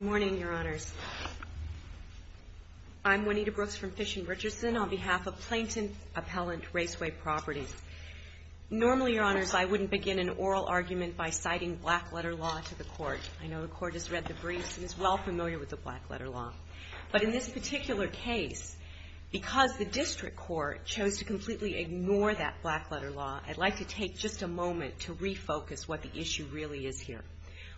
Good morning, Your Honors. I'm Juanita Brooks from Fish & Richardson on behalf of Plainton Appellant Raceway Properties. Normally, Your Honors, I wouldn't begin an oral argument by citing black-letter law to the Court. I know the Court has read the briefs and is well familiar with the black-letter law. But in this particular case, because the District Court chose to completely ignore that black-letter law, I'd like to take just a moment to refocus what the issue really is here.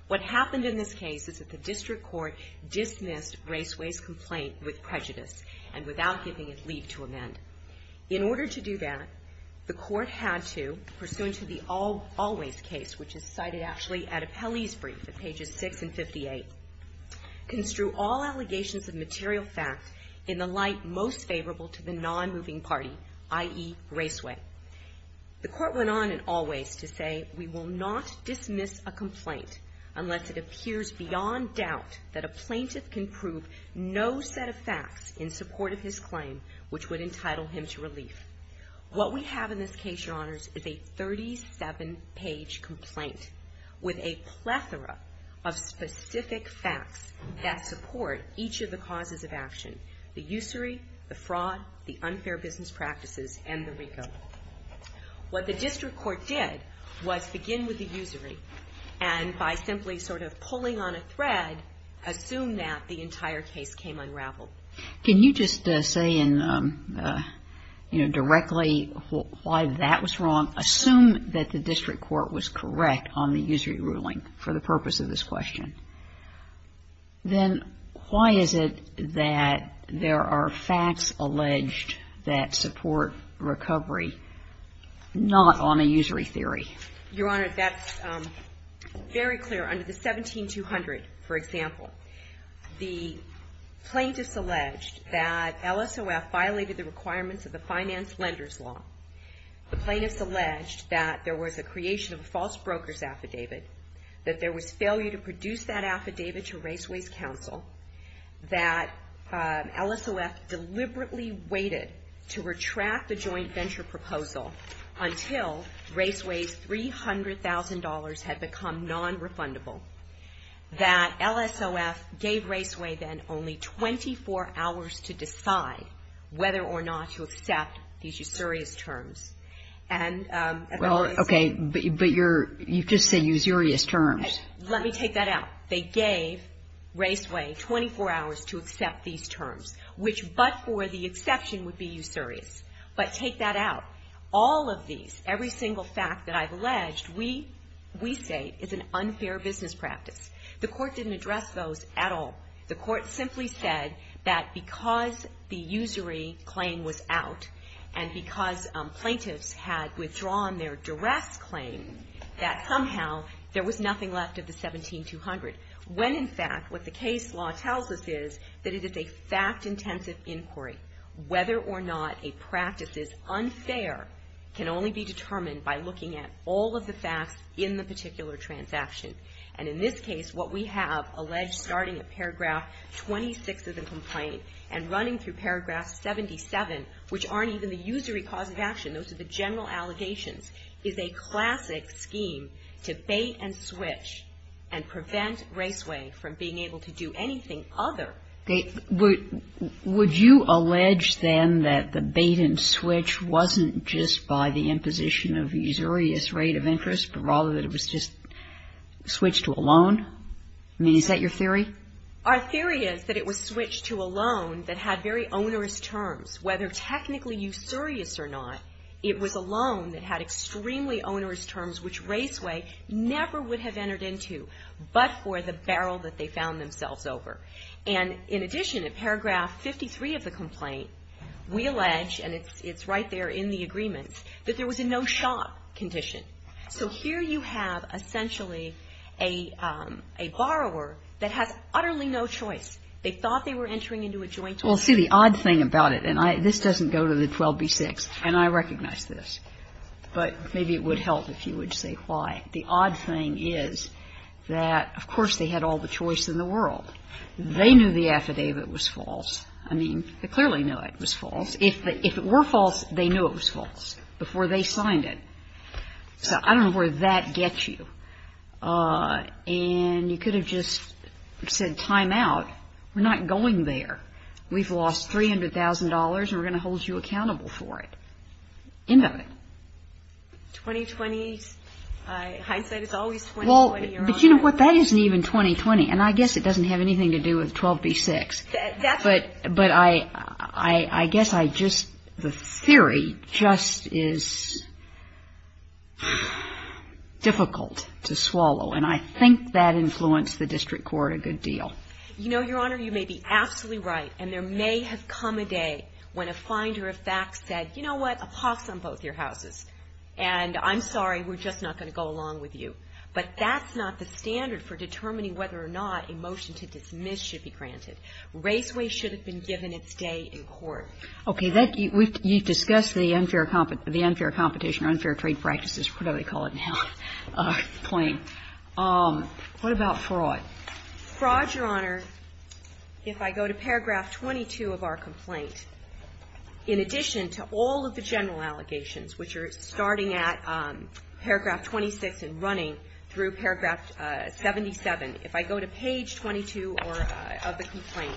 What happened in this case is that the District Court dismissed Raceway's complaint with prejudice and without giving it leave to amend. In order to do that, the Court had to, pursuant to the Always case, which is cited actually at Appellee's brief at pages 6 and 58, construe all allegations of material facts in the light most favorable to the non-moving party, i.e. Raceway. The Court went on in Always to say, We will not dismiss a complaint unless it appears beyond doubt that a plaintiff can prove no set of facts in support of his claim which would entitle him to relief. What we have in this case, Your Honors, is a 37-page complaint with a plethora of specific facts that support each of the causes of action, the usury, the fraud, the unfair business practices, and the recode. What the District Court did was begin with the usury and by simply sort of pulling on a thread, assume that the entire case came unraveled. Can you just say in, you know, directly why that was wrong? Assume that the District Court was correct on the usury ruling for the purpose of this question. Then why is it that there are facts alleged that support recovery, not on a usury theory? Your Honor, that's very clear. Under the 17-200, for example, the plaintiffs alleged that LSOF violated the requirements of the finance lender's law. The plaintiffs alleged that there was a creation of a false broker's affidavit, that there was failure to produce that affidavit to Raceway's counsel, that LSOF deliberately waited to retract the joint venture proposal until Raceway's $300,000 had become nonrefundable, that LSOF gave Raceway then only 24 hours to decide whether or not to accept these usurious terms. And as a result of this ---- Well, okay. But you just said usurious terms. Let me take that out. They gave Raceway 24 hours to accept these terms, which but for the exception would be usurious. But take that out. All of these, every single fact that I've alleged, we say is an unfair business practice. The Court didn't address those at all. The Court simply said that because the usury claim was out and because plaintiffs had withdrawn their duress claim, that somehow there was nothing left of the 17-200, when, in fact, what the case law tells us is that it is a fact-intensive inquiry. Whether or not a practice is unfair can only be determined by looking at all of the facts in the particular transaction. And in this case, what we have alleged starting at paragraph 26 of the complaint and running through paragraph 77, which aren't even the usury cause of action, those are the general allegations, is a classic scheme to bait and switch and prevent Raceway from being able to do anything other than ---- Would you allege, then, that the bait and switch wasn't just by the imposition of usurious rate of interest, but rather that it was just switched to a loan? I mean, is that your theory? Our theory is that it was switched to a loan that had very onerous terms. Whether technically usurious or not, it was a loan that had extremely onerous terms, which Raceway never would have entered into but for the barrel that they found themselves over. And in addition, in paragraph 53 of the complaint, we allege, and it's right there in the agreements, that there was a no-shop condition. So here you have essentially a borrower that has utterly no choice. They thought they were entering into a joint order. Well, see, the odd thing about it, and this doesn't go to the 12b-6, and I recognize this, but maybe it would help if you would say why. The odd thing is that, of course, they had all the choice in the world. They knew the affidavit was false. I mean, they clearly knew it was false. If it were false, they knew it was false before they signed it. So I don't know where that gets you. And you could have just said time out. We're not going there. We've lost $300,000, and we're going to hold you accountable for it. End of it. 20-20, hindsight is always 20-20, Your Honor. Well, but you know what? That isn't even 20-20, and I guess it doesn't have anything to do with 12b-6. That's true. But I guess I just the theory just is difficult to swallow, and I think that influenced the district court a good deal. You know, Your Honor, you may be absolutely right, and there may have come a day when a finder of facts said, you know what, a pause on both your houses, and I'm sorry, we're just not going to go along with you. But that's not the standard for determining whether or not a motion to dismiss should be granted. Raceway should have been given its day in court. Okay. You've discussed the unfair competition or unfair trade practices, whatever they call it now. What about fraud? Fraud, Your Honor, if I go to paragraph 22 of our complaint, in addition to all of the general allegations, which are starting at paragraph 26 and running through paragraph 77, if I go to page 22 of the complaint,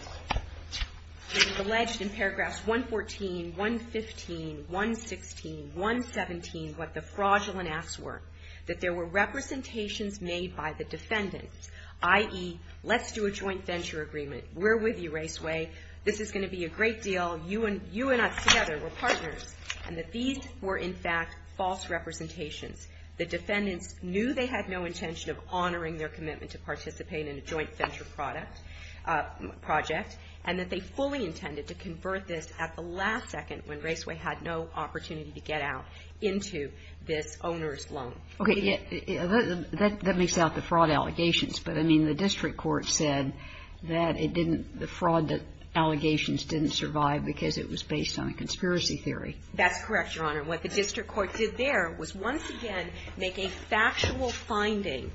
it is alleged in paragraphs 114, 115, 116, 117, what the fraudulent acts were, that there were representations made by the defendants, i.e., let's do a joint venture agreement. We're with you, Raceway. This is going to be a great deal. You and us together, we're partners. And that these were, in fact, false representations. The defendants knew they had no intention of honoring their commitment to participate in a joint venture project, and that they fully intended to convert this at the last second when Raceway had no opportunity to get out into this owner's loan. Okay. That makes out the fraud allegations. But, I mean, the district court said that it didn't, the fraud allegations didn't survive because it was based on a conspiracy theory. That's correct, Your Honor. What the district court did there was once again make a factual finding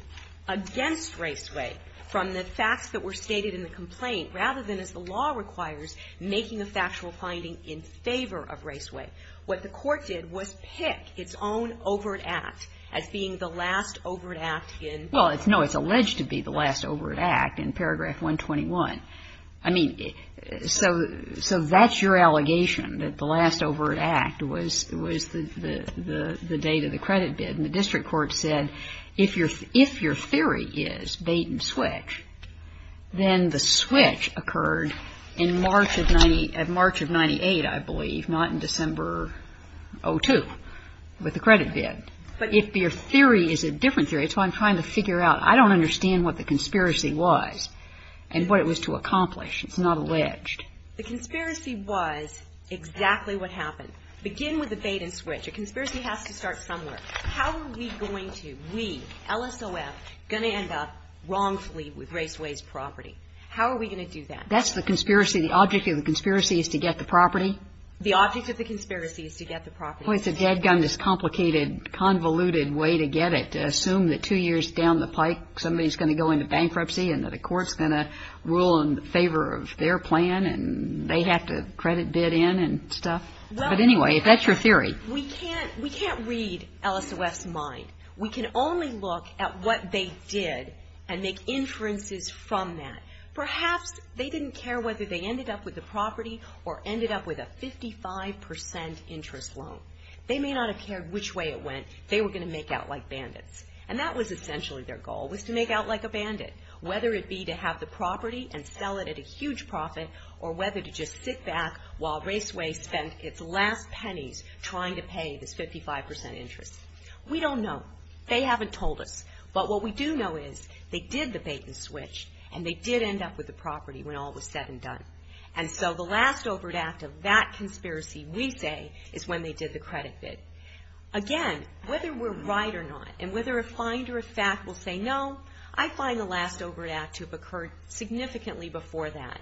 against Raceway from the facts that were stated in the complaint, rather than, as the law requires, making a factual finding in favor of Raceway. What the court did was pick its own overt act as being the last overt act in the paragraph 121. I mean, so that's your allegation, that the last overt act was the date of the credit bid. And the district court said, if your theory is bait and switch, then the switch occurred in March of 98, I believe, not in December 02, with the credit bid. But if your theory is a different theory, that's what I'm trying to figure out. I don't understand what the conspiracy was and what it was to accomplish. It's not alleged. The conspiracy was exactly what happened. Begin with the bait and switch. A conspiracy has to start somewhere. How are we going to, we, LSOF, going to end up wrongfully with Raceway's property? How are we going to do that? That's the conspiracy. The object of the conspiracy is to get the property. The object of the conspiracy is to get the property. Well, it's a dead gun, this complicated, convoluted way to get it. To assume that two years down the pike, somebody's going to go into bankruptcy and that a court's going to rule in favor of their plan and they have to credit bid in and stuff. But anyway, if that's your theory. We can't read LSOF's mind. We can only look at what they did and make inferences from that. Perhaps they didn't care whether they ended up with the property or ended up with a 55 percent interest loan. They may not have cared which way it went. They were going to make out like bandits. And that was essentially their goal, was to make out like a bandit. Whether it be to have the property and sell it at a huge profit or whether to just sit back while Raceway spent its last pennies trying to pay this 55 percent interest. We don't know. They haven't told us. But what we do know is they did the bait and switch and they did end up with the property when all was said and done. And so the last overt act of that conspiracy, we say, is when they did the credit bid. Again, whether we're right or not and whether a finder of fact will say no, I find the last overt act to have occurred significantly before that.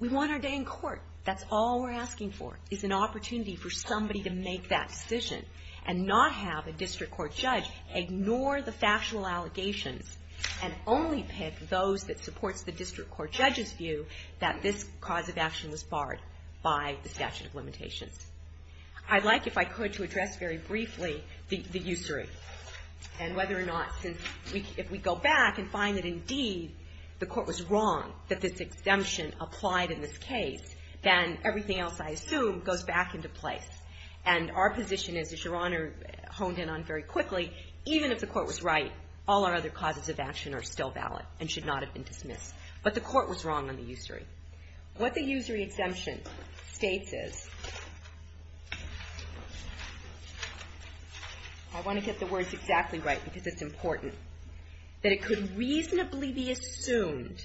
We want our day in court. That's all we're asking for, is an opportunity for somebody to make that decision and not have a district court judge ignore the factual allegations and only pick those that supports the district court judge's view that this cause of action was barred by the statute of limitations. I'd like, if I could, to address very briefly the usury and whether or not since if we go back and find that, indeed, the court was wrong that this exemption applied in this case, then everything else, I assume, goes back into place. And our position is, as Your Honor honed in on very quickly, even if the court was right, all our other causes of action are still valid and should not have been dismissed. But the court was wrong on the usury. What the usury exemption states is, I want to get the words exactly right because it's important, that it could reasonably be assumed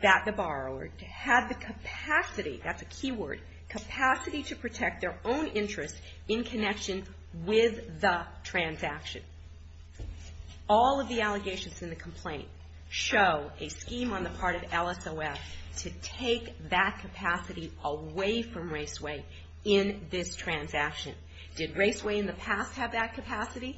that the borrower had the capacity, that's a key word, capacity to protect their own interest in connection with the transaction. All of the allegations in the complaint show a scheme on the part of LSOS to take that capacity away from Raceway in this transaction. Did Raceway in the past have that capacity?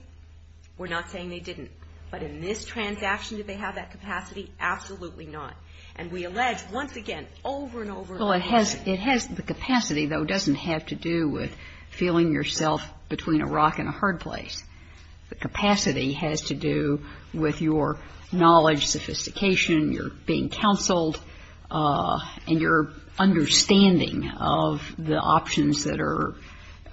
We're not saying they didn't. But in this transaction, did they have that capacity? Absolutely not. And we allege, once again, over and over again. Well, it has the capacity, though, doesn't have to do with feeling yourself between a rock and a hard place. The capacity has to do with your knowledge, sophistication, your being counseled, and your understanding of the options that are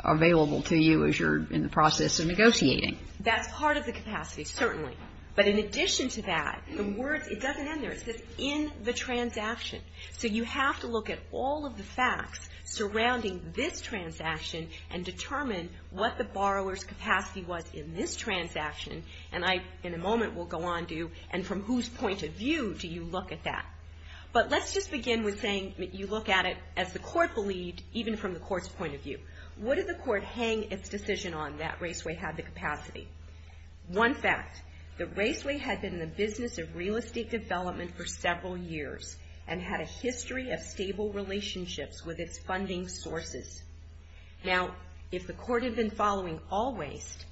available to you as you're in the process of negotiating. That's part of the capacity, certainly. But in addition to that, the words, it doesn't end there. It says, in the transaction. So you have to look at all of the facts surrounding this transaction and determine what the borrower's capacity was in this transaction. And I, in a moment, will go on to, and from whose point of view do you look at that? But let's just begin with saying you look at it, as the court believed, even from the court's point of view. What did the court hang its decision on that Raceway had the capacity? One fact, that Raceway had been in the business of real estate development for a long time and had a history of stable relationships with its funding sources. Now, if the court had been following all waste,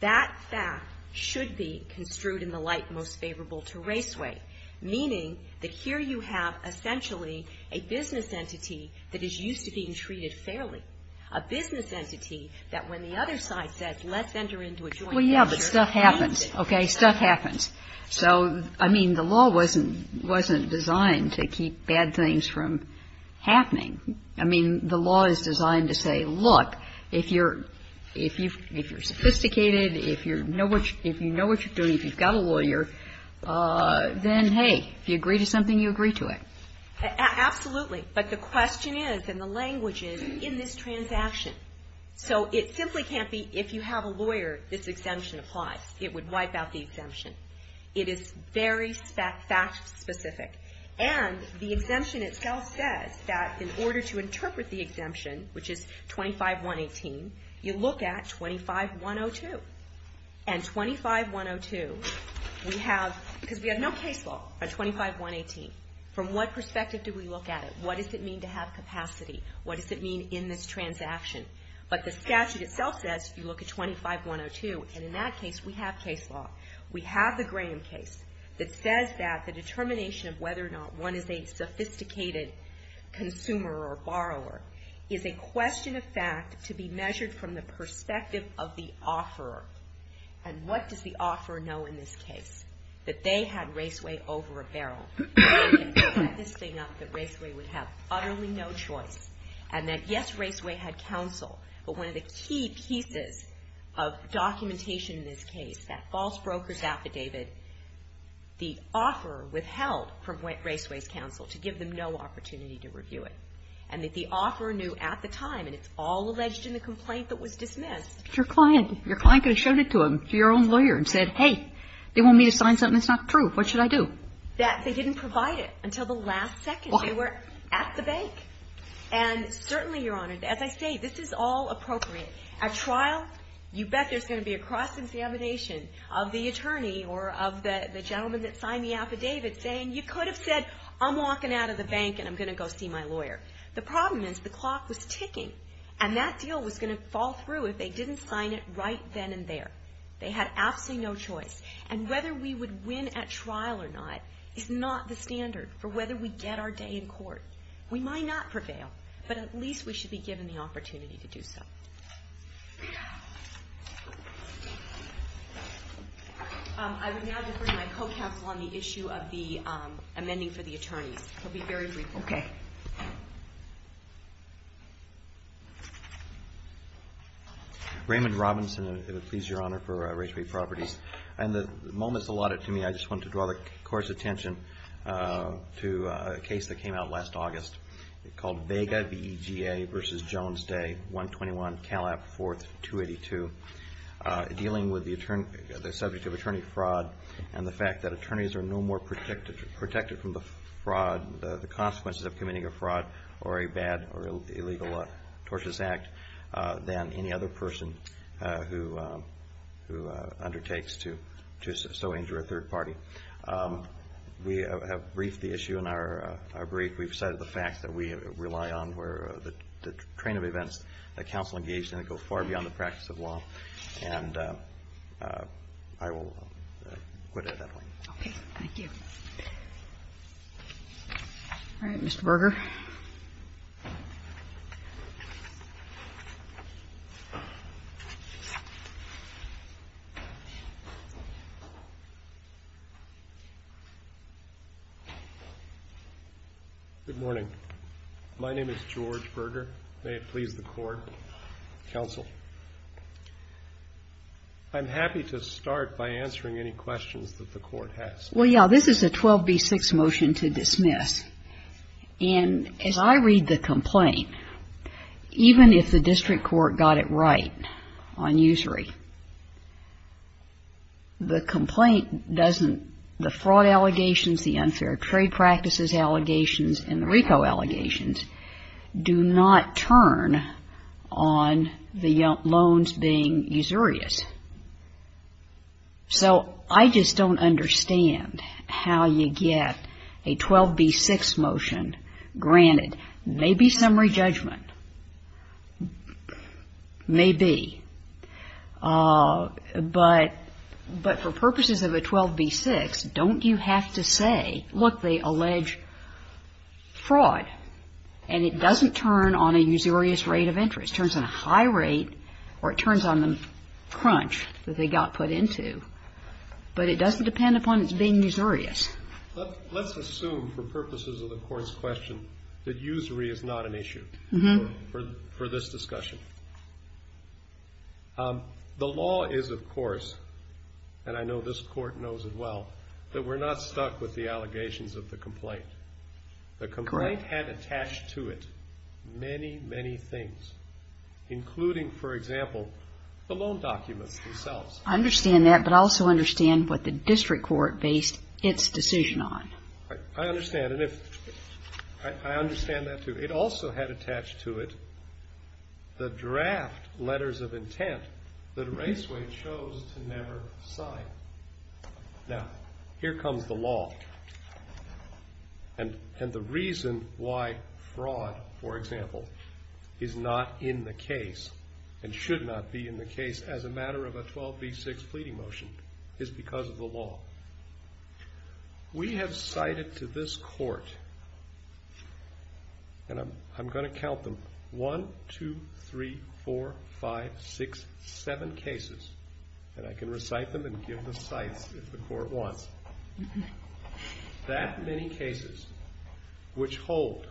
that fact should be construed in the light most favorable to Raceway, meaning that here you have essentially a business entity that is used to being treated fairly, a business entity that when the other side says, let's enter into a joint venture. Well, yeah, but stuff happens. Okay? Stuff happens. So, I mean, the law wasn't designed to keep bad things from happening. I mean, the law is designed to say, look, if you're sophisticated, if you know what you're doing, if you've got a lawyer, then, hey, if you agree to something, you agree to it. Absolutely. But the question is, and the language is, in this transaction. So it simply can't be, if you have a lawyer, this exemption applies. It would wipe out the exemption. It is very fact specific. And the exemption itself says that in order to interpret the exemption, which is 25118, you look at 25102. And 25102, we have, because we have no case law on 25118. From what perspective do we look at it? What does it mean to have capacity? What does it mean in this transaction? But the statute itself says you look at 25102. And in that case, we have case law. We have the Graham case that says that the determination of whether or not one is a sophisticated consumer or borrower is a question of fact to be measured from the perspective of the offeror. And what does the offeror know in this case? That they had Raceway over a barrel. They set this thing up that Raceway would have utterly no choice. And that, yes, Raceway had counsel. But one of the key pieces of documentation in this case, that false broker's affidavit, the offeror withheld from Raceway's counsel to give them no opportunity to review it. And that the offeror knew at the time, and it's all alleged in the complaint that was dismissed. Your client could have shown it to them, to your own lawyer, and said, hey, they want me to sign something that's not true. What should I do? That they didn't provide it until the last second. They were at the bank. And certainly, Your Honor, as I say, this is all appropriate. At trial, you bet there's going to be a cross-examination of the attorney or of the gentleman that signed the affidavit saying, you could have said, I'm walking out of the bank and I'm going to go see my lawyer. The problem is the clock was ticking. And that deal was going to fall through if they didn't sign it right then and there. They had absolutely no choice. And whether we would win at trial or not is not the standard for whether we get our day in court. We might not prevail, but at least we should be given the opportunity to do so. I would now defer to my co-counsel on the issue of the amending for the attorneys. It will be very brief. Okay. Raymond Robinson. It would please Your Honor for Rachael Ray Properties. In the moments allotted to me, I just wanted to draw the Court's attention to a case that came out last August called Vega, V-E-G-A v. Jones Day, 121 Calap 4th, 282, dealing with the subject of attorney fraud and the fact that attorneys are no more protected from the consequences of committing a fraud or a bad or illegal tortious act than any other person who undertakes to so injure a third party. We have briefed the issue in our brief. We've cited the fact that we rely on the train of events that counsel engaged in that go far beyond the practice of law. And I will quit at that point. Okay. Thank you. All right. Mr. Berger. Good morning. My name is George Berger. May it please the Court, counsel. I'm happy to start by answering any questions that the Court has. Well, yeah. This is a 12B6 motion to dismiss. And as I read the complaint, even if the district court got it right on usury, the complaint doesn't, the fraud allegations, the unfair trade practices allegations, and the RICO allegations do not turn on the loans being usurious. So I just don't understand how you get a 12B6 motion granted. Maybe summary judgment. Maybe. But for purposes of a 12B6, don't you have to say, look, they allege fraud, and it doesn't turn on a usurious rate of interest. It turns on a high rate or it turns on the crunch that they got put into. But it doesn't depend upon its being usurious. Let's assume for purposes of the Court's question that usury is not an issue for this discussion. The law is, of course, and I know this Court knows it well, that we're not stuck with the allegations of the complaint. The complaint had attached to it many, many things, including, for example, the loan documents themselves. I understand that, but I also understand what the district court based its decision on. I understand, and I understand that, too. It also had attached to it the draft letters of intent that Raceway chose to never sign. Now, here comes the law. And the reason why fraud, for example, is not in the case and should not be in the case as a matter of a 12B6, fleeting motion, is because of the law. We have cited to this Court, and I'm going to count them, one, two, three, four, five, six, seven cases, and I can recite them and give the cites if the Court wants, that many cases which hold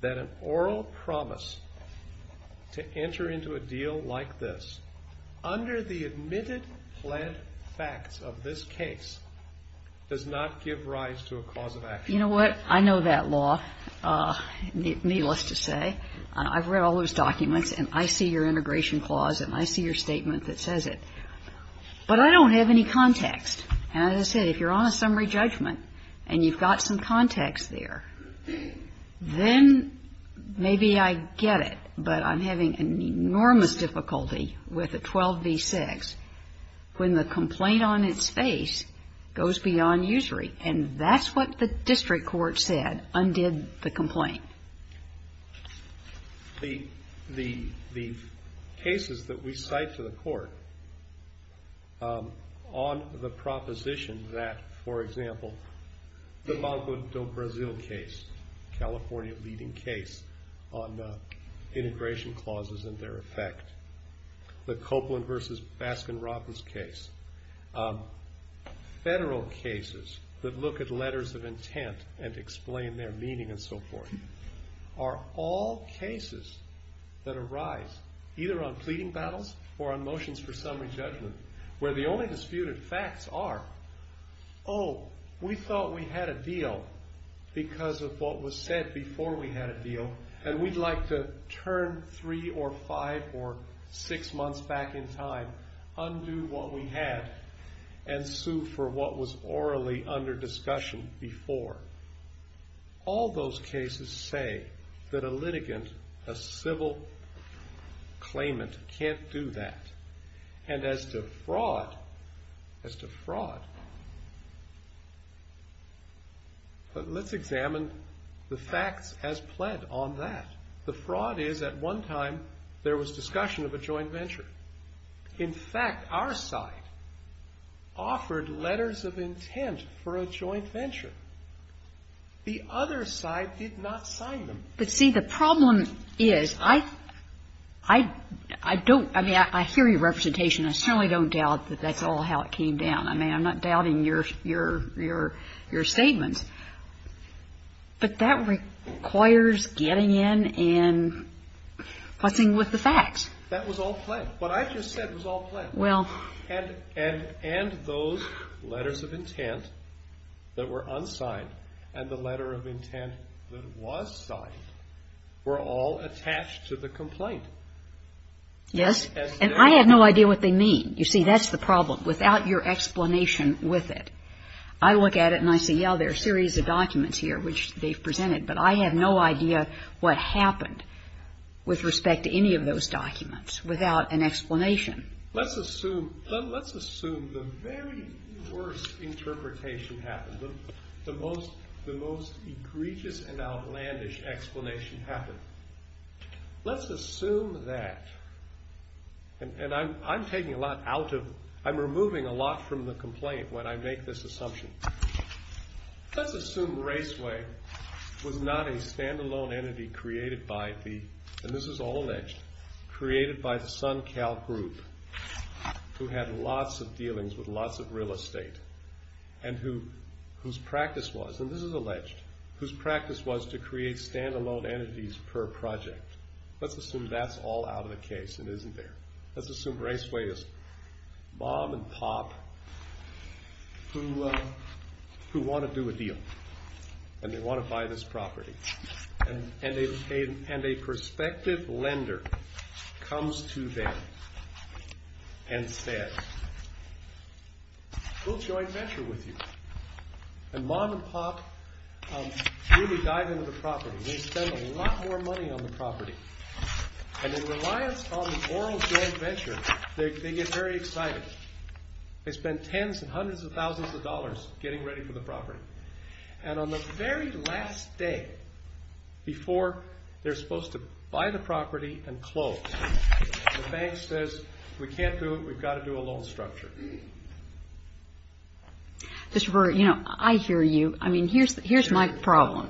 that an oral promise to enter into a deal like this under the admitted fled facts of this case does not give rise to a cause of action. You know what? I know that law, needless to say. I've read all those documents, and I see your integration clause, and I see your statement that says it. But I don't have any context. And as I said, if you're on a summary judgment and you've got some context there, then maybe I get it, but I'm having an enormous difficulty with a 12B6 when the complaint on its face goes beyond usury. And that's what the district court said undid the complaint. The cases that we cite to the Court on the proposition that, for example, the Mambo del Brasil case, California leading case on integration clauses and their effect, the Copeland versus Baskin-Robbins case, federal cases that look at letters of intent and explain their meaning and so forth, are all cases that arise either on pleading battles or on motions for summary judgment where the only disputed facts are, oh, we thought we had a deal because of what was said before we had a deal, and we'd like to turn three or five or six months back in time, undo what we had, and sue for what was orally under discussion before. All those cases say that a litigant, a civil claimant, can't do that. And as to fraud, as to fraud, let's examine the facts as pled on that. The fraud is at one time there was discussion of a joint venture. In fact, our side offered letters of intent for a joint venture. The other side did not sign them. But, see, the problem is, I don't, I mean, I hear your representation. I certainly don't doubt that that's all how it came down. I mean, I'm not doubting your statements. But that requires getting in and fussing with the facts. That was all pled. What I just said was all pled. Well. And those letters of intent that were unsigned and the letter of intent that was signed were all attached to the complaint. Yes. And I have no idea what they mean. You see, that's the problem. Without your explanation with it, I look at it and I say, yeah, there are a series of documents here, which they've presented, but I have no idea what happened with respect to any of those documents, without an explanation. Let's assume, let's assume the very worst interpretation happened, the most egregious and outlandish explanation happened. Let's assume that, and I'm taking a lot out of, I'm removing a lot from the complaint when I make this assumption. Let's assume Raceway was not a stand-alone entity created by the, and this is all alleged, created by the SunCal group, who had lots of dealings with lots of real estate and whose practice was, and this is alleged, whose practice was to create stand-alone entities per project. Let's assume that's all out of the case and isn't there. Let's assume Raceway is mom and pop who want to do a deal and they want to buy this property. And a prospective lender comes to them and says, we'll join venture with you. And mom and pop really dive into the property. They spend a lot more money on the property. And in reliance on the oral joint venture, they get very excited. They spend tens and hundreds of thousands of dollars getting ready for the property. And on the very last day before they're supposed to buy the property and close, the bank says, we can't do it. We've got to do a loan structure. Mr. Brewer, you know, I hear you. I mean, here's my problem.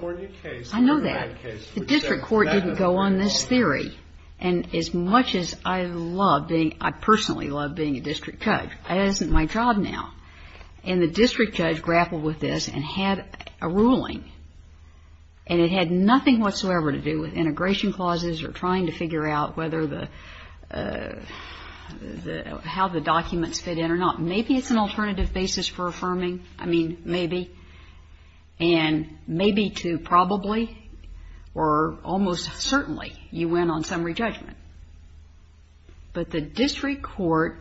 I know that. The district court didn't go on this theory. And as much as I love being, I personally love being a district judge. That isn't my job now. And the district judge grappled with this and had a ruling. And it had nothing whatsoever to do with integration clauses or trying to figure out how the documents fit in or not. Maybe it's an alternative basis for affirming. I mean, maybe. And maybe to probably or almost certainly you went on summary judgment. But the district court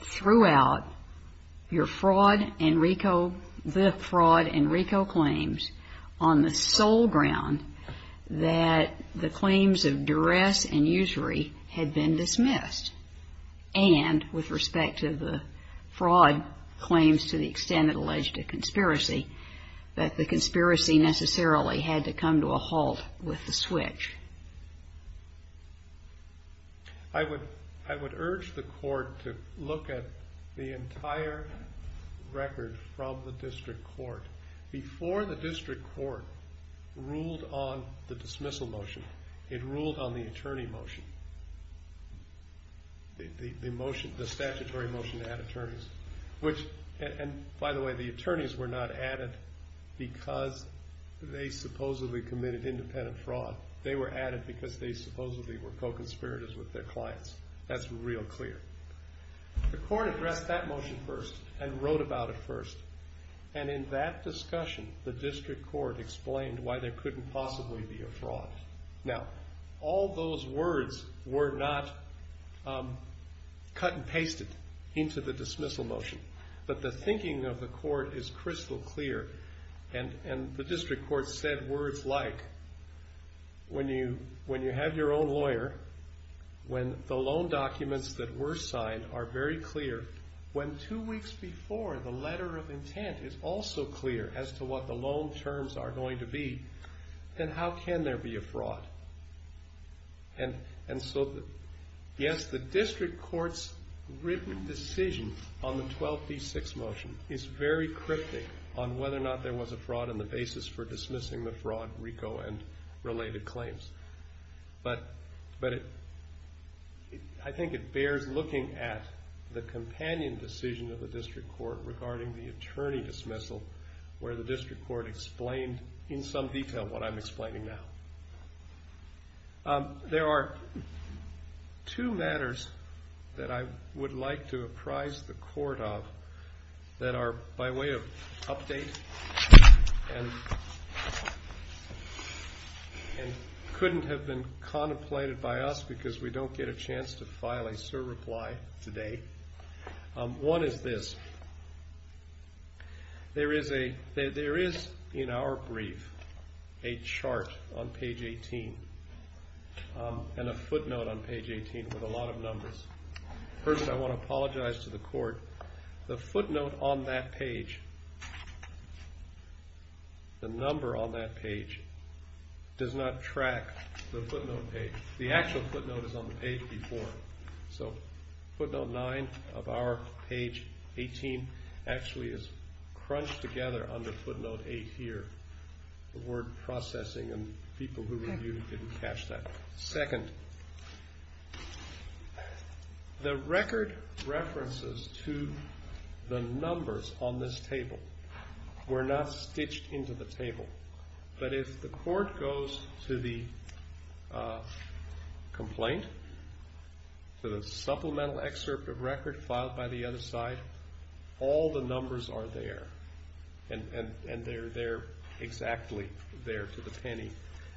threw out your fraud and RICO, the fraud and RICO claims on the sole ground that the claims of duress and usury had been dismissed. And with respect to the fraud claims to the extent it alleged a conspiracy, that the conspiracy necessarily had to come to a halt with the switch. I would urge the court to look at the entire record from the district court. Before the district court ruled on the dismissal motion, it ruled on the attorney motion, the motion, the statutory motion to add attorneys. And by the way, the attorneys were not added because they supposedly committed independent fraud. They were added because they supposedly were co-conspirators with their clients. That's real clear. The court addressed that motion first and wrote about it first. And in that discussion, the district court explained why there couldn't possibly be a fraud. Now, all those words were not cut and pasted into the dismissal motion. But the thinking of the court is crystal clear. And the district court said words like, when you have your own lawyer, when the loan documents that were signed are very clear, when two weeks before the letter of intent is also clear as to what the loan terms are going to be, then how can there be a fraud? And so, yes, the district court's written decision on the 12B6 motion is very cryptic on whether or not there was a fraud in the basis for dismissing the fraud, RICO, and related claims. But I think it bears looking at the companion decision of the district court regarding the attorney dismissal where the district court explained in some detail what I'm explaining now. There are two matters that I would like to apprise the court of that are by way of update and couldn't have been contemplated by us because we don't get a chance to file a surreply today. One is this. There is, in our brief, a chart on page 18 and a footnote on page 18 with a lot of numbers. First, I want to apologize to the court. The footnote on that page, the number on that page, does not track the footnote page. The actual footnote is on the page before. So footnote 9 of our page 18 actually is crunched together under footnote 8 here. The word processing and people who reviewed it didn't catch that. Second, the record references to the numbers on this table were not stitched into the table. But if the court goes to the complaint, to the supplemental excerpt of record filed by the other side, all the numbers are there and they're exactly there to the penny.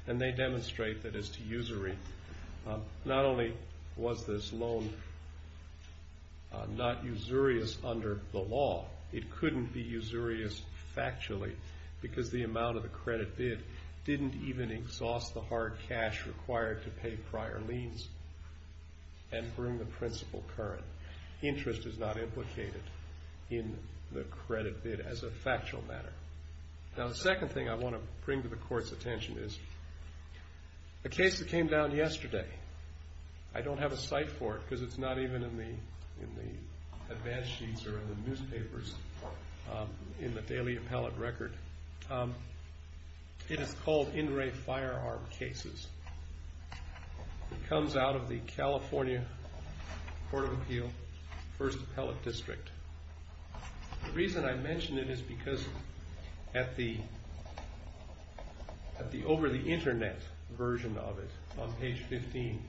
And they demonstrate that as to usury, not only was this loan not usurious under the law, it couldn't be usurious factually because the amount of the credit bid didn't even exhaust the hard cash required to pay prior liens. And during the principal current, interest is not implicated in the credit bid as a factual matter. Now the second thing I want to bring to the court's attention is a case that came down yesterday. I don't have a cite for it because it's not even in the advance sheets or in the newspapers, in the daily appellate record. It is called In Re Firearm Cases. It comes out of the California Court of Appeal, First Appellate District. The reason I mention it is because at the over-the-internet version of it on page 15,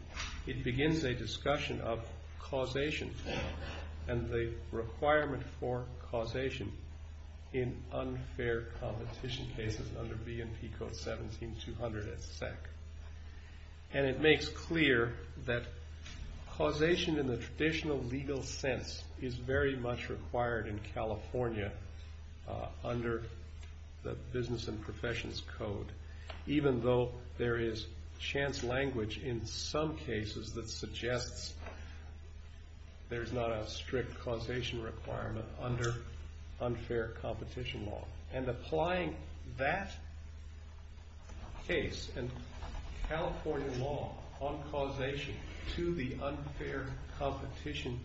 it begins a discussion of causation and the requirement for causation in unfair competition cases under B&P Code 17-200 at SEC. And it makes clear that causation in the traditional legal sense is very much required in California under the Business and Professions Code, even though there is chance language in some cases that suggests there's not a strict causation requirement under unfair competition law. And applying that case in California law on causation to the unfair competition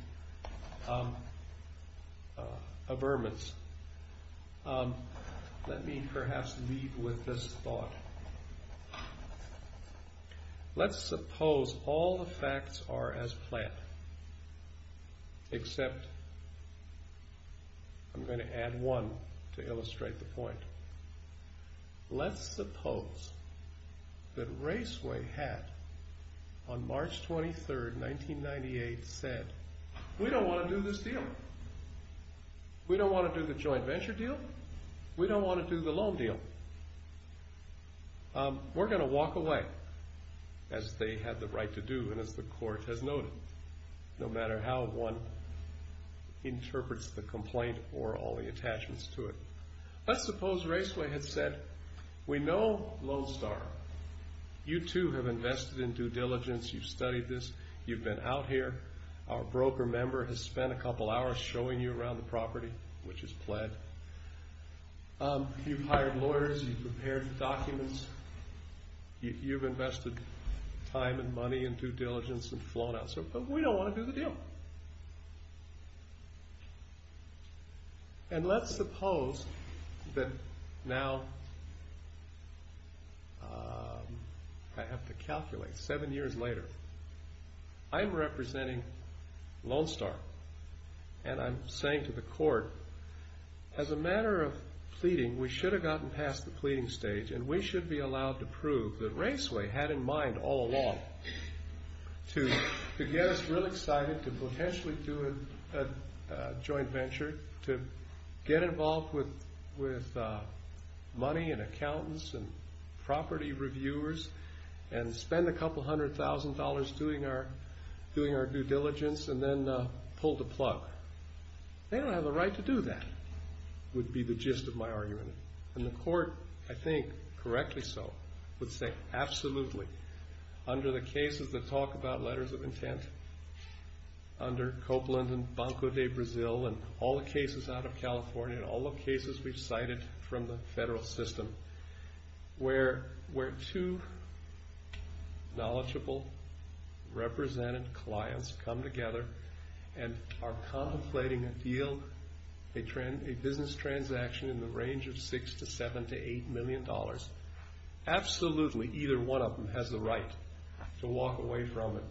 averments, let me perhaps leave with this thought. Let's suppose all the facts are as planned, except I'm going to add one to illustrate the point. Let's suppose that Raceway had, on March 23, 1998, said, we don't want to do this deal. We don't want to do the joint venture deal. We don't want to do the loan deal. We're going to walk away, as they had the right to do and as the court has noted, no matter how one interprets the complaint or all the attachments to it. Let's suppose Raceway had said, we know Lone Star. You too have invested in due diligence. You've studied this. You've been out here. Our broker member has spent a couple hours showing you around the property, which is pled. You've hired lawyers. You've prepared the documents. You've invested time and money in due diligence and flown out. But we don't want to do the deal. And let's suppose that now, I have to calculate, seven years later, I'm representing Lone Star and I'm saying to the court, as a matter of pleading, we should have gotten past the pleading stage and we should be allowed to prove that Raceway had in mind all along to get us real excited to potentially do a joint venture, to get involved with money and accountants and property reviewers and spend a couple hundred thousand dollars doing our due diligence and then pull the plug. They don't have the right to do that, would be the gist of my argument. And the court, I think correctly so, would say absolutely. Under the cases that talk about letters of intent, under Copeland and Banco de Brazil and all the cases out of California and all the cases we've cited from the federal system, where two knowledgeable, represented clients come together and are contemplating a deal, a business transaction in the range of six to seven to eight million dollars, absolutely either one of them has the right to walk away from it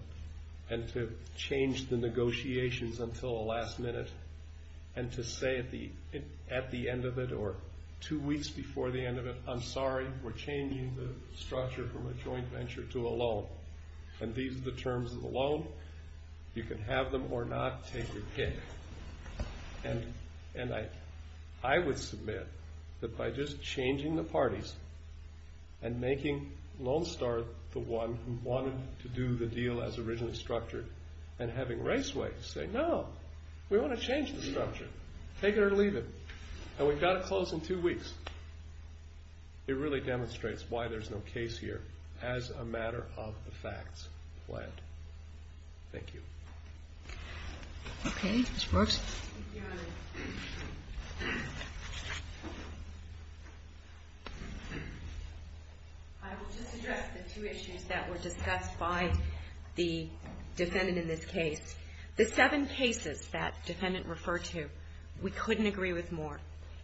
and to change the negotiations until the last minute and to say at the end of it or two weeks before the end of it, I'm sorry, we're changing the structure from a joint venture to a loan. And these are the terms of the loan. You can have them or not, take your pick. And I would submit that by just changing the parties and making Lone Star the one who wanted to do the deal as originally structured and having Raceway say, no, we want to change the structure, take it or leave it, and we've got to close in two weeks, it really demonstrates why there's no case here as a matter of the facts planned. Thank you. Okay, Ms. Brooks. I will just address the two issues that were discussed by the defendant in this case. The seven cases that defendant referred to, we couldn't agree with more.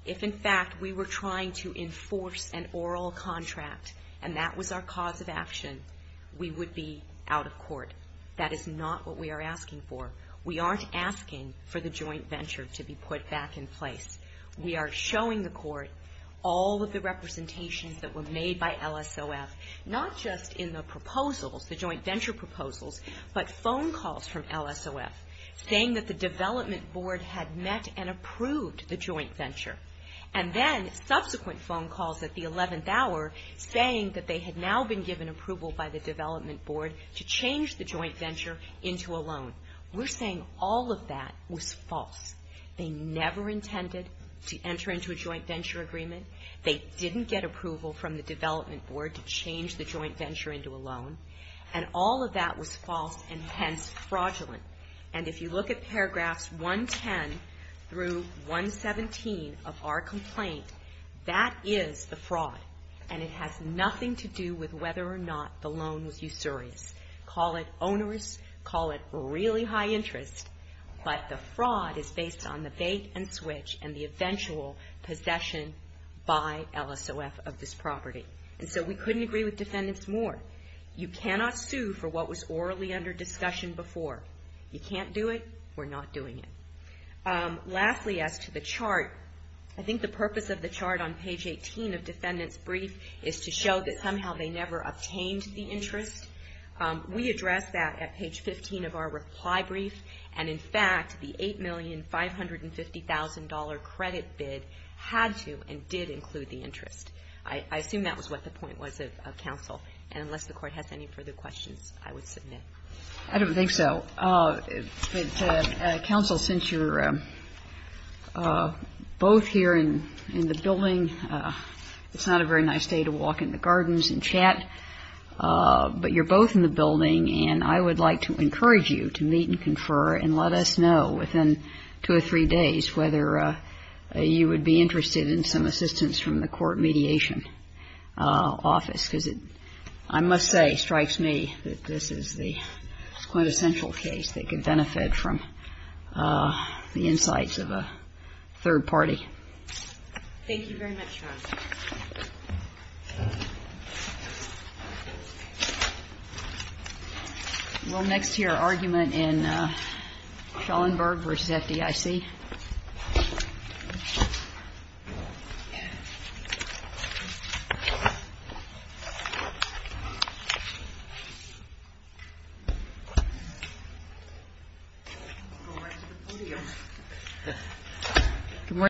If, in fact, we were trying to enforce an oral contract and that was our cause of action, we would be out of court. That is not what we are asking for. We aren't asking for the joint venture to be put back in place. We are showing the court all of the representations that were made by LSOF, not just in the proposals, the joint venture proposals, but phone calls from LSOF saying that the development board had met and approved the joint venture. And then subsequent phone calls at the 11th hour saying that they had now been given approval by the development board to change the joint venture into a loan. We're saying all of that was false. They never intended to enter into a joint venture agreement. They didn't get approval from the development board to change the joint venture into a loan. And all of that was false and, hence, fraudulent. And if you look at paragraphs 110 through 117 of our complaint, that is the fraud, and it has nothing to do with whether or not the loan was usurious. Call it onerous, call it really high interest, but the fraud is based on the bait and switch and the eventual possession by LSOF of this property. And so we couldn't agree with defendants more. You cannot sue for what was orally under discussion before. You can't do it, we're not doing it. Lastly, as to the chart, I think the purpose of the chart on page 18 of defendant's brief is to show that somehow they never obtained the interest. We addressed that at page 15 of our reply brief, and, in fact, the $8,550,000 credit bid had to and did include the interest. I assume that was what the point was of counsel, and unless the Court has any further questions, I would submit. I don't think so. Counsel, since you're both here in the building, it's not a very nice day to walk in the gardens and chat, but you're both in the building, and I would like to encourage you to meet and confer and let us know within two or three days whether you would be interested in some assistance from the court mediation office, because it, I must say, strikes me that this is the quintessential case that could benefit from the insights of a third party. Thank you very much, counsel. We'll next hear argument in Schellenberg v. FDIC. Good morning.